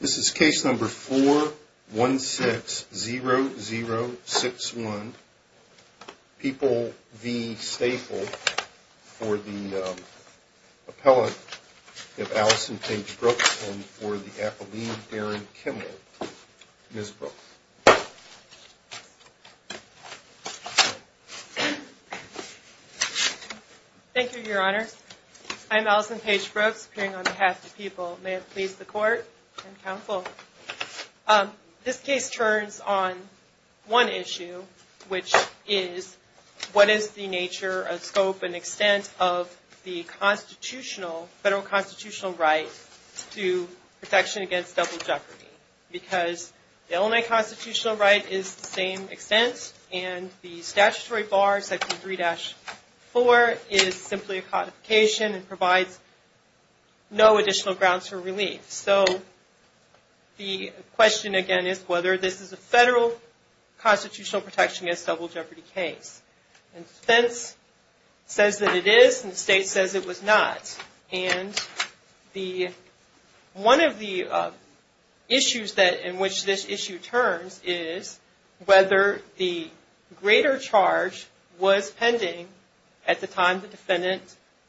This is case number 4160061, People v. Staple, for the appellate of Allison Page Brooks and for the appellee, Darren Kimmel. Ms. Brooks. Thank you, Your Honor. I'm Allison Page Brooks, appearing on behalf of the people. May it please the court and counsel. This case turns on one issue, which is, what is the nature, scope, and extent of the constitutional, federal constitutional right to protection against double jeopardy? Because the Illinois constitutional right is the same extent, and the statutory bar, section 3-4, is simply a codification and provides no additional grounds for relief. So, the question again is whether this is a federal constitutional protection against double jeopardy case. And the defense says that it is, and the state says it was not. And one of the issues in which this issue turns is whether the greater charge was pending at the time the defendant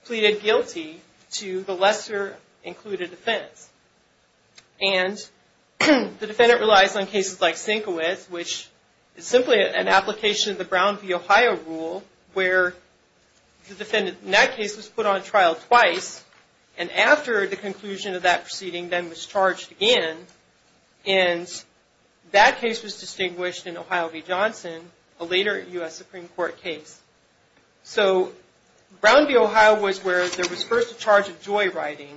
pleaded guilty to the lesser included offense. And the defendant relies on cases like Sinkowitz, which is simply an application of the Brown v. Ohio rule, where the defendant in that case was put on trial twice, and after the conclusion of that proceeding, then was charged again. And that case was distinguished in Ohio v. Johnson, a later U.S. Supreme Court case. So, Brown v. Ohio was where there was first a charge of joyriding,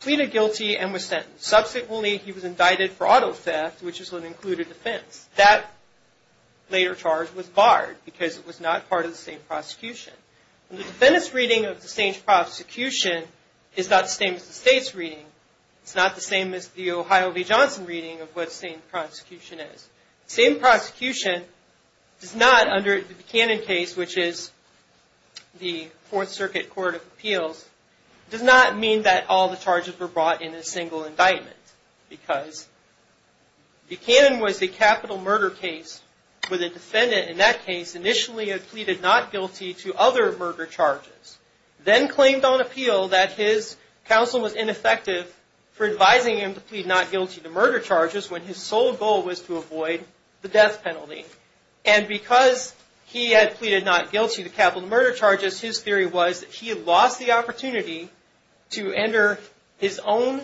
pleaded guilty, and was sentenced. Subsequently, he was indicted for auto theft, which is an included offense. That later charge was barred because it was not part of the same prosecution. The defendant's reading of the same prosecution is not the same as the state's reading. It's not the same as the Ohio v. Johnson reading of what the same prosecution is. The same prosecution does not, under the Buchanan case, which is the Fourth Circuit Court of Appeals, does not mean that all the charges were brought in a single indictment. Because Buchanan was the capital murder case where the defendant in that case initially had pleaded not guilty to other murder charges, then claimed on appeal that his counsel was ineffective for advising him to plead not guilty to murder charges when his sole goal was to avoid the death penalty. And because he had pleaded not guilty to capital murder charges, his theory was that he lost the opportunity to enter his own,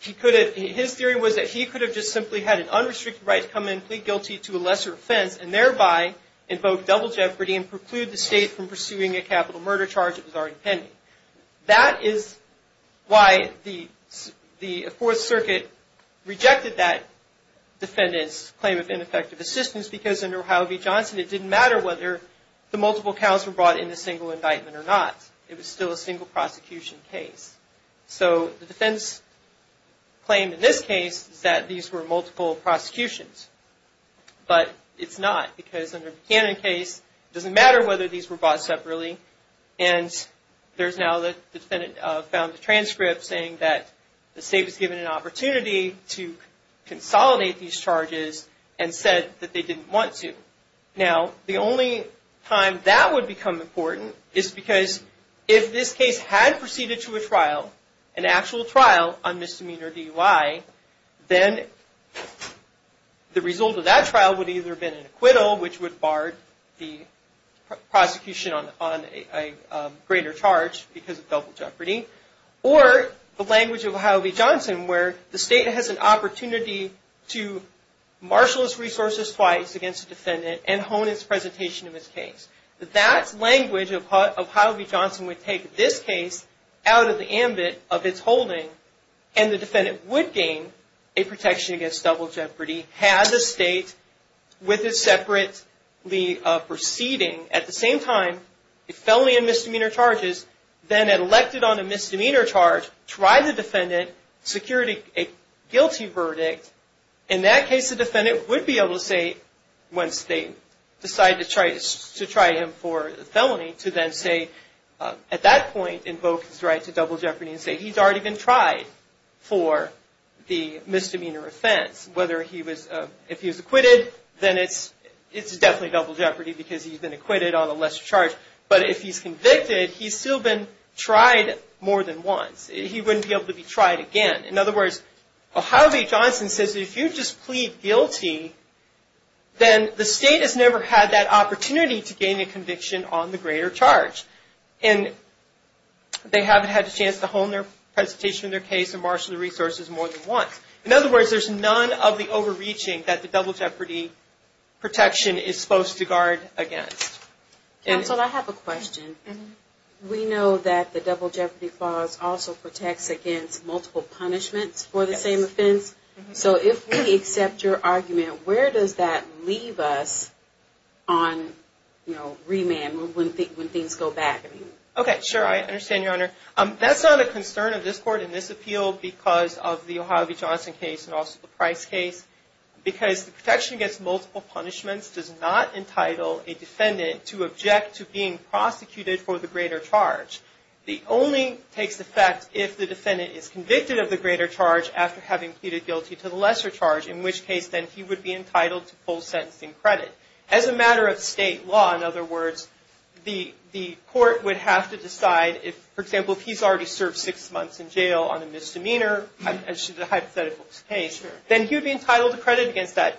he could have, his theory was that he could have just simply had an unrestricted right to come in and plead guilty to a lesser offense and thereby invoke double jeopardy and preclude the state from pursuing a capital murder charge that was already pending. That is why the Fourth Circuit rejected that defendant's claim of ineffective assistance because under Ohio v. Johnson it didn't matter whether the multiple counts were brought in a single indictment or not. It was still a single prosecution case. So the defense claimed in this case that these were multiple prosecutions, but it's not because under Buchanan's case it doesn't matter whether these were brought separately and there's now the defendant found a transcript saying that the state was given an opportunity to consolidate these charges and said that they didn't want to. Now the only time that would become important is because if this case had proceeded to a trial, an actual trial on misdemeanor DUI, then the result of that trial would either have been an acquittal, which would have barred the prosecution on a greater charge because of double jeopardy, or the language of Ohio v. Johnson where the state has an opportunity to marshal its resources twice against a defendant. That language of Ohio v. Johnson would take this case out of the ambit of its holding and the defendant would gain a protection against double jeopardy had the state, with it separately proceeding, at the same time, it fell in misdemeanor charges, then it elected on a misdemeanor charge, tried the defendant, secured a guilty verdict. In that case, the defendant would be able to say, once they decide to try him for felony, to then say, at that point, invoke his right to double jeopardy and say he's already been tried for the misdemeanor offense, whether he was, if he was acquitted, then it's definitely double jeopardy because he's been acquitted on a lesser charge, but if he's convicted, he's still been tried more than once. He wouldn't be able to be tried again. In other words, Ohio v. Johnson says if you just plead guilty, then the state has never had that opportunity to gain a conviction on the greater charge. And they haven't had a chance to hone their presentation in their case and marshal the resources more than once. In other words, there's none of the overreaching that the double jeopardy protection is supposed to guard against. Counsel, I have a question. We know that the double jeopardy clause also protects against multiple punishments for the same offense. So if we accept your argument, where does that leave us on, you know, remand, when things go back? I understand, Your Honor. That's not a concern of this Court in this appeal because of the Ohio v. Johnson case and also the Price case. Because the protection against multiple punishments does not entitle a defendant to object to being prosecuted for the greater charge. It only takes effect if the defendant is convicted of the greater charge after having pleaded guilty to the lesser charge, in which case then he would be entitled to full sentencing credit. As a matter of state law, in other words, the Court would have to decide if, for example, if he's already served six months in jail on a misdemeanor, as should the hypothetical case, then he would be entitled to credit against that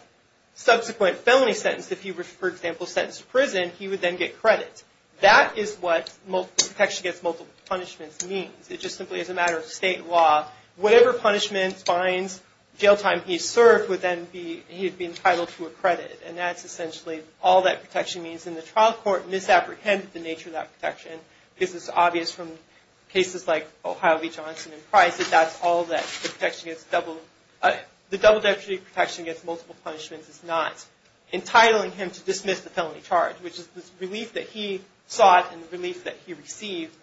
subsequent felony sentence. If he was, for example, sentenced to prison, he would then get credit. That is what protection against multiple punishments means. It just simply is a matter of state law. Whatever punishment, fines, jail time he served would then be, he'd be entitled to a credit. And that's essentially all that protection means. And the trial court misapprehended the nature of that protection because it's obvious from cases like Ohio v. Johnson and Price that that's all that the protection against double, the double degree protection against multiple punishments is not entitling him to dismiss the felony charge, which is the relief that he sought and the relief that he received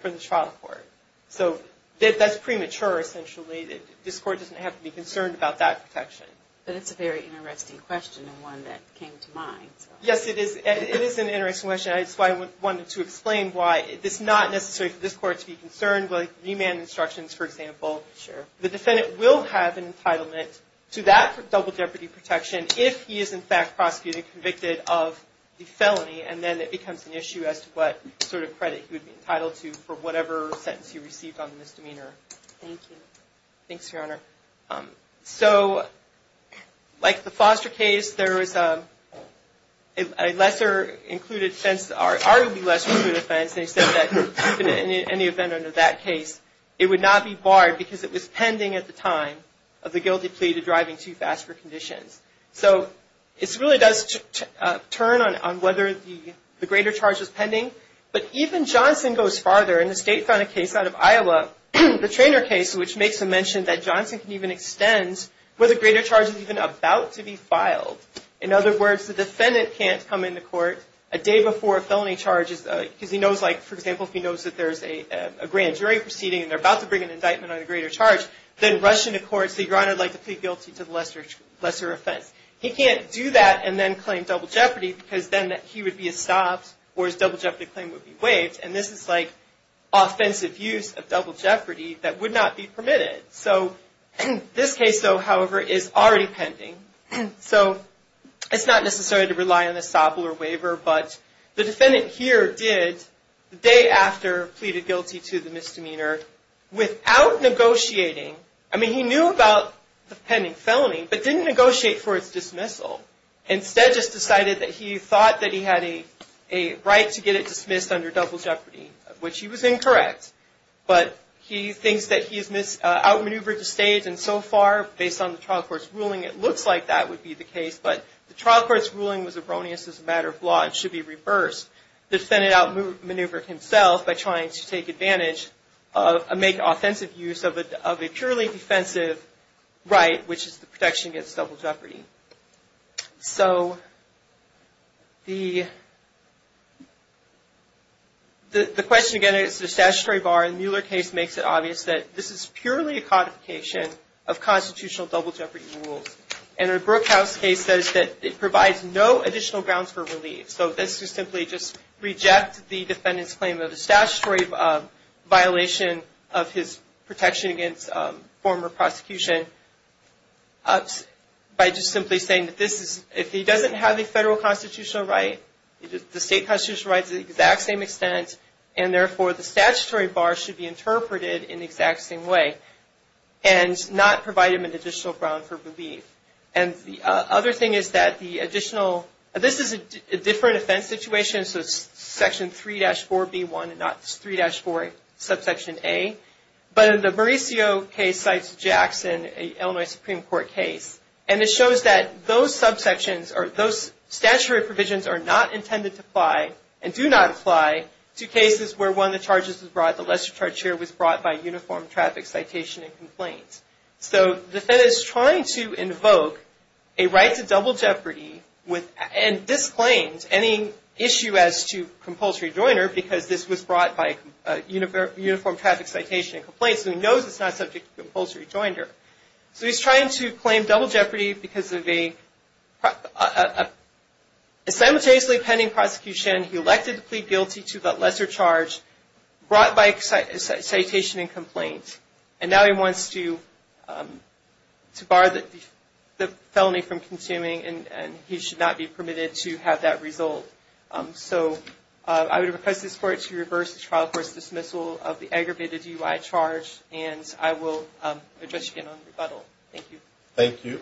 from the trial court. So that's premature, essentially. This Court doesn't have to be concerned about that protection. But it's a very interesting question and one that came to mind. Yes, it is. It is an interesting question. That's why I wanted to explain why it's not necessary for this Court to be concerned with remand instructions, for example. Sure. The defendant will have an entitlement to that double jeopardy protection if he is, in fact, prosecuted and convicted of the felony. And then it becomes an issue as to what sort of credit he would be entitled to for whatever sentence he received on the misdemeanor. Thanks, Your Honor. So like the Foster case, there was a lesser included offense, arguably lesser included offense. They said that in any event under that case, it would not be barred because it was pending at the time of the guilty plea to driving too fast for conditions. So it really does turn on whether the greater charge was pending. But even Johnson goes farther. In the state-funded case out of Iowa, the Traynor case, which makes a mention that Johnson can even extend where the greater charge is even about to be filed. In other words, the defendant can't come into court a day before a felony charge because he knows, like, for example, if he knows that there's a grand jury proceeding and they're about to bring an indictment on the greater charge, then rush into court and say, Your Honor, I'd like to plead guilty to the lesser offense. He can't do that and then claim double jeopardy because then he would be estopped or his double jeopardy claim would be waived. And this is like offensive use of double jeopardy that would not be permitted. So this case, though, however, is already pending. So it's not necessary to rely on a SOPL or waiver, but the defendant here did, the day after pleaded guilty to the misdemeanor, without negotiating. I mean, he knew about the pending felony, but didn't negotiate for its dismissal. Instead, just decided that he thought that he had a right to get it dismissed under double jeopardy, which he was incorrect. But he thinks that he's outmaneuvered the state, and so far, based on the trial court's ruling, it looks like that would be the case. But the trial court's ruling was erroneous as a matter of law and should be reversed. The defendant outmaneuvered himself by trying to take advantage of, make offensive use of a purely defensive right, which is the protection against double jeopardy. So the question, again, is the statutory bar. And the Mueller case makes it obvious that this is purely a codification of constitutional double jeopardy rules. And the Brookhouse case says that it provides no additional grounds for relief. So this is simply just reject the defendant's claim of a statutory violation of his protection against former prosecution by just simply saying that this is, if he doesn't have a federal constitutional right, the state constitutional right is the exact same extent, and therefore the statutory bar should be interpreted in the exact same way and not provide him an additional ground for relief. And the other thing is that the additional, this is a different offense situation. So it's Section 3-4B1 and not 3-4 subsection A. But the Mauricio case cites Jackson, an Illinois Supreme Court case, and it shows that those subsections or those statutory provisions are not intended to apply and do not apply to cases where one of the charges was brought, the lesser charge here, was brought by uniform traffic citation and complaints. So the defendant is trying to invoke a right to double jeopardy with, and this claims, any issue as to compulsory joiner because this was brought by uniform traffic citation and complaints, and he knows it's not subject to compulsory joiner. So he's trying to claim double jeopardy because of a simultaneously pending prosecution. He elected to plead guilty to the lesser charge brought by citation and complaint. And now he wants to bar the felony from consuming, and he should not be permitted to have that result. So I would request the court to reverse the trial court's dismissal of the aggravated DUI charge, and I will address you again on the rebuttal. Thank you. Thank you.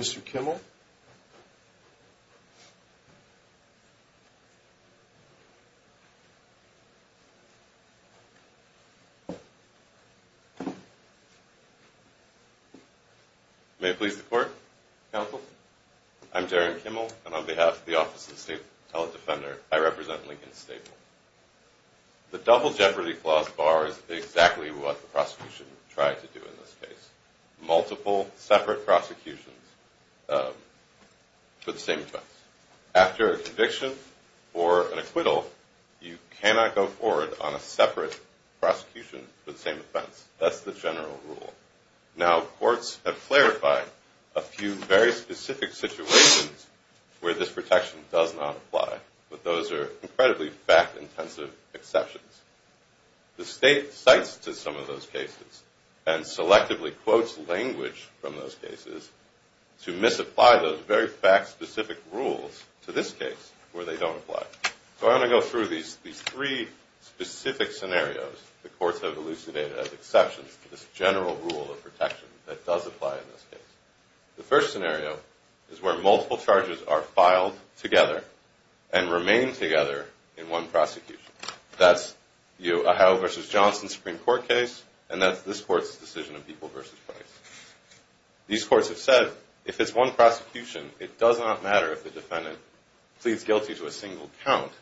Mr. Kimmel. May it please the court, counsel? I'm Jaron Kimmel, and on behalf of the Office of the State Defender, I represent Lincoln-Staple. The double jeopardy clause bar is exactly what the prosecution tried to do in this case. Multiple separate prosecutions for the same offense. After a conviction or an acquittal, you cannot go forward on a separate prosecution for the same offense. That's the general rule. Now, courts have clarified a few very specific situations where this protection does not apply, but those are incredibly fact-intensive exceptions. The state cites to some of those cases and selectively quotes language from those cases to misapply those very fact-specific rules to this case where they don't apply. So I want to go through these three specific scenarios the courts have elucidated as exceptions to this general rule of protection that does apply in this case. The first scenario is where multiple charges are filed together and remain together in one prosecution. That's the Ohio v. Johnson Supreme Court case, and that's this court's decision of People v. Price. These courts have said if it's one prosecution, it does not matter if the defendant pleads guilty to a single count.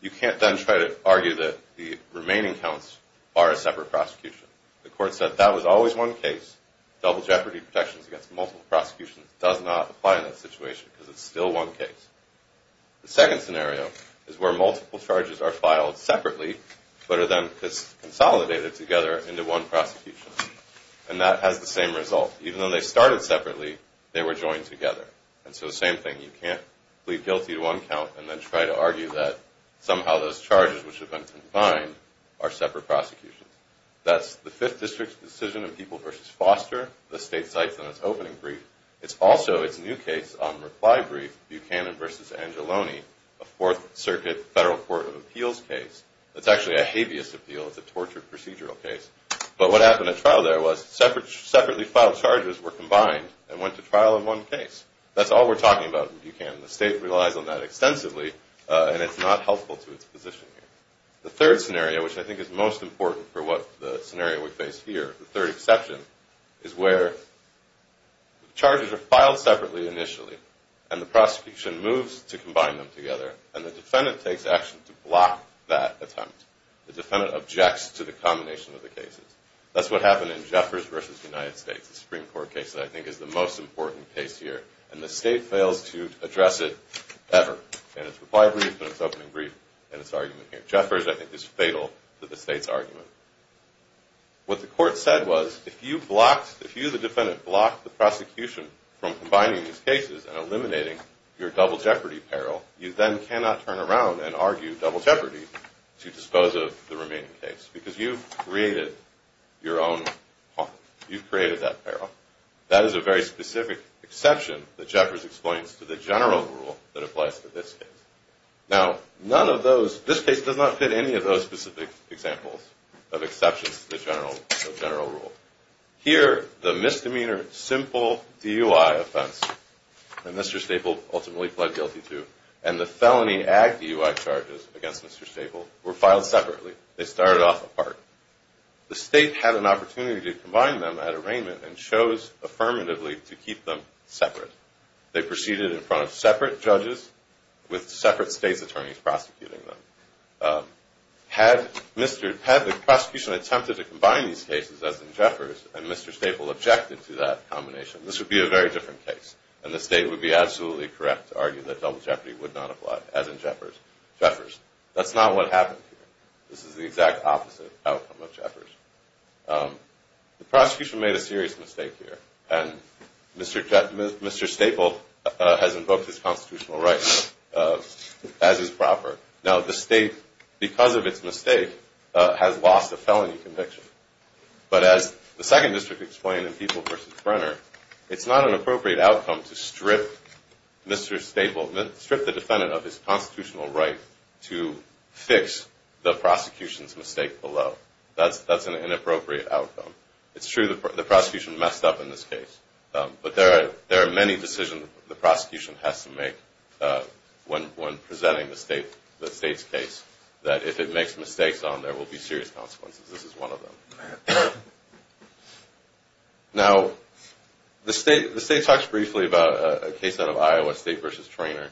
You can't then try to argue that the remaining counts are a separate prosecution. The court said that was always one case. Double jeopardy protections against multiple prosecutions does not apply in that situation because it's still one case. The second scenario is where multiple charges are filed separately, but are then consolidated together into one prosecution. And that has the same result. Even though they started separately, they were joined together. And so the same thing. You can't plead guilty to one count and then try to argue that somehow those charges, which have been combined, are separate prosecutions. That's the Fifth District's decision of People v. Foster. The state cites on its opening brief. It's also its new case on reply brief, Buchanan v. Angelone, a Fourth Circuit Federal Court of Appeals case. It's actually a habeas appeal. It's a tortured procedural case. But what happened at trial there was separately filed charges were combined and went to trial in one case. That's all we're talking about in Buchanan. The state relies on that extensively, and it's not helpful to its position here. The third scenario, which I think is most important for the scenario we face here, the third exception, is where the charges are filed separately initially, and the prosecution moves to combine them together, and the defendant takes action to block that attempt. The defendant objects to the combination of the cases. That's what happened in Jeffers v. United States, the Supreme Court case that I think is the most important case here. And the state fails to address it ever in its reply brief and its opening brief and its argument here. Jeffers, I think, is fatal to the state's argument. What the court said was if you the defendant block the prosecution from combining these cases and eliminating your double jeopardy peril, you then cannot turn around and argue double jeopardy to dispose of the remaining case because you've created your own harm. You've created that peril. That is a very specific exception that Jeffers explains to the general rule that applies to this case. Now, none of those, this case does not fit any of those specific examples of exceptions to the general rule. Here, the misdemeanor simple DUI offense that Mr. Staple ultimately pled guilty to and the felony ag DUI charges against Mr. Staple were filed separately. They started off apart. The state had an opportunity to combine them at arraignment and chose affirmatively to keep them separate. They proceeded in front of separate judges with separate state's attorneys prosecuting them. Had the prosecution attempted to combine these cases, as in Jeffers, and Mr. Staple objected to that combination, this would be a very different case and the state would be absolutely correct to argue that double jeopardy would not apply, as in Jeffers. That's not what happened here. This is the exact opposite outcome of Jeffers. The prosecution made a serious mistake here. And Mr. Staple has invoked his constitutional rights as is proper. Now, the state, because of its mistake, has lost a felony conviction. But as the second district explained in People v. Brenner, it's not an appropriate outcome to strip Mr. Staple, strip the defendant of his constitutional right to fix the prosecution's mistake below. That's an inappropriate outcome. It's true the prosecution messed up in this case. But there are many decisions the prosecution has to make when presenting the state's case, that if it makes mistakes on, there will be serious consequences. This is one of them. Now, the state talks briefly about a case out of Iowa, State v. Trainor.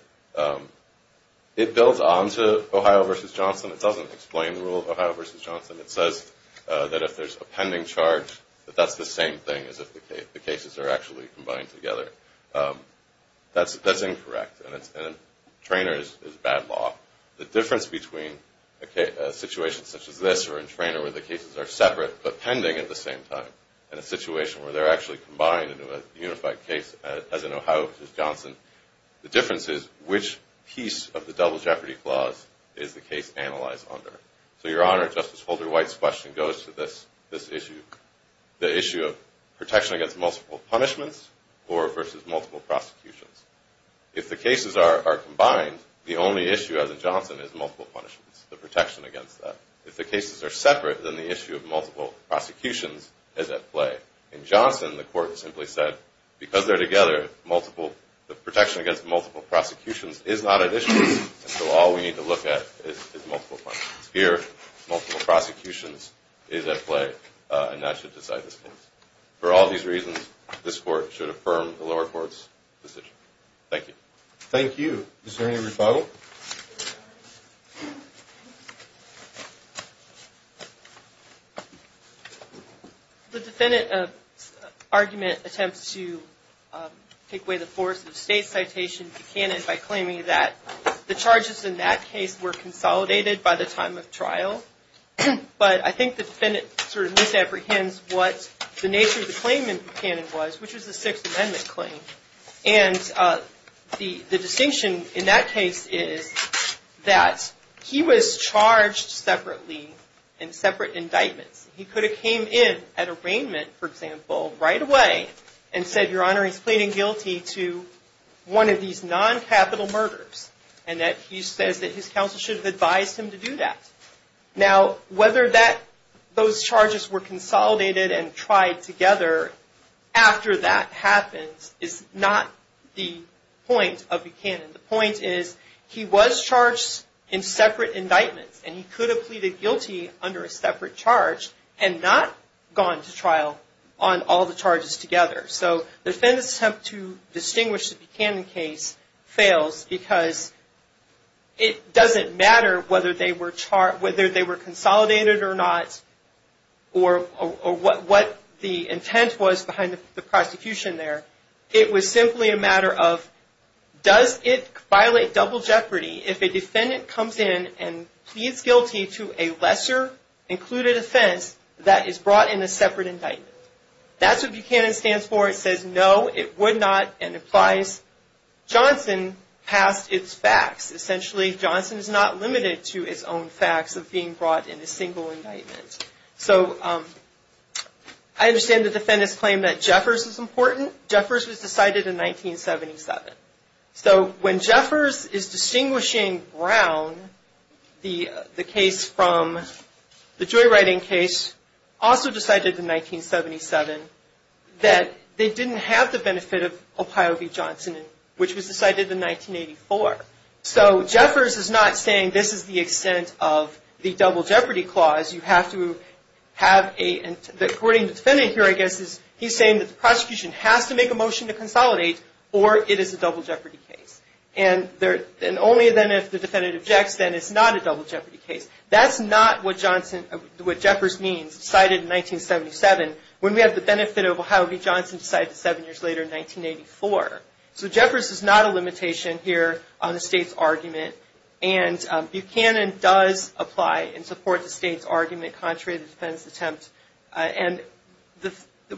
It builds on to Ohio v. Johnson. It doesn't explain the rule of Ohio v. Johnson. It says that if there's a pending charge, that that's the same thing as if the cases are actually combined together. That's incorrect. And Trainor is bad law. The difference between a situation such as this or in Trainor where the cases are separate but pending at the same time and a situation where they're actually combined into a unified case, as in Ohio v. Johnson, the difference is which piece of the double jeopardy clause is the case analyzed under. So, Your Honor, Justice Holder-White's question goes to this issue, the issue of protection against multiple punishments or versus multiple prosecutions. If the cases are combined, the only issue, as in Johnson, is multiple punishments, the protection against that. If the cases are separate, then the issue of multiple prosecutions is at play. In Johnson, the court simply said, because they're together, the protection against multiple prosecutions is not at issue, and so all we need to look at is multiple punishments. Here, multiple prosecutions is at play, and that should decide this case. For all these reasons, this court should affirm the lower court's decision. Thank you. Thank you. Is there any response? No. The defendant's argument attempts to take away the force of the State's citation to Buchanan by claiming that the charges in that case were consolidated by the time of trial, but I think the defendant sort of misapprehends what the nature of the claim in Buchanan was, which was the Sixth Amendment claim. And the distinction in that case is that he was charged separately in separate indictments. He could have came in at arraignment, for example, right away and said, Your Honor, he's pleading guilty to one of these non-capital murders, and that he says that his counsel should have advised him to do that. Now, whether those charges were consolidated and tried together after that happened is not the point of Buchanan. The point is he was charged in separate indictments, and he could have pleaded guilty under a separate charge and not gone to trial on all the charges together. So the defendant's attempt to distinguish the Buchanan case fails because it doesn't matter whether they were consolidated or not or what the intent was behind the prosecution there. It was simply a matter of, does it violate double jeopardy if a defendant comes in and pleads guilty to a lesser included offense that is brought in a separate indictment? That's what Buchanan stands for. It says no, it would not, and implies Johnson passed its facts. Essentially, Johnson is not limited to his own facts of being brought in a single indictment. So I understand the defendant's claim that Jeffers is important. Jeffers was decided in 1977. So when Jeffers is distinguishing Brown, the case from the Joywriting case, Brown was also decided in 1977 that they didn't have the benefit of Pio B. Johnson, which was decided in 1984. So Jeffers is not saying this is the extent of the double jeopardy clause. You have to have a – according to the defendant here, I guess, he's saying that the prosecution has to make a motion to consolidate or it is a double jeopardy case. And only then, if the defendant objects, then it's not a double jeopardy case. That's not what Jefferson means, decided in 1977, when we have the benefit of Pio B. Johnson decided seven years later in 1984. So Jeffers is not a limitation here on the state's argument. And Buchanan does apply and support the state's argument contrary to the defendant's attempt. And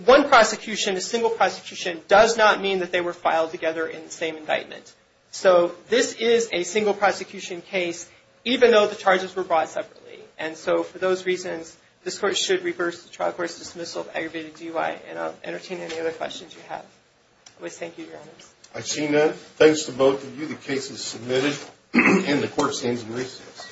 one prosecution, a single prosecution, does not mean that they were filed together in the same indictment. So this is a single prosecution case, even though the charges were brought separately. And so for those reasons, this Court should reverse the trial court's dismissal of aggravated DUI. And I'll entertain any other questions you have. I always thank you, Your Honors. I see none. Thanks to both of you. The case is submitted, and the Court stands in recess.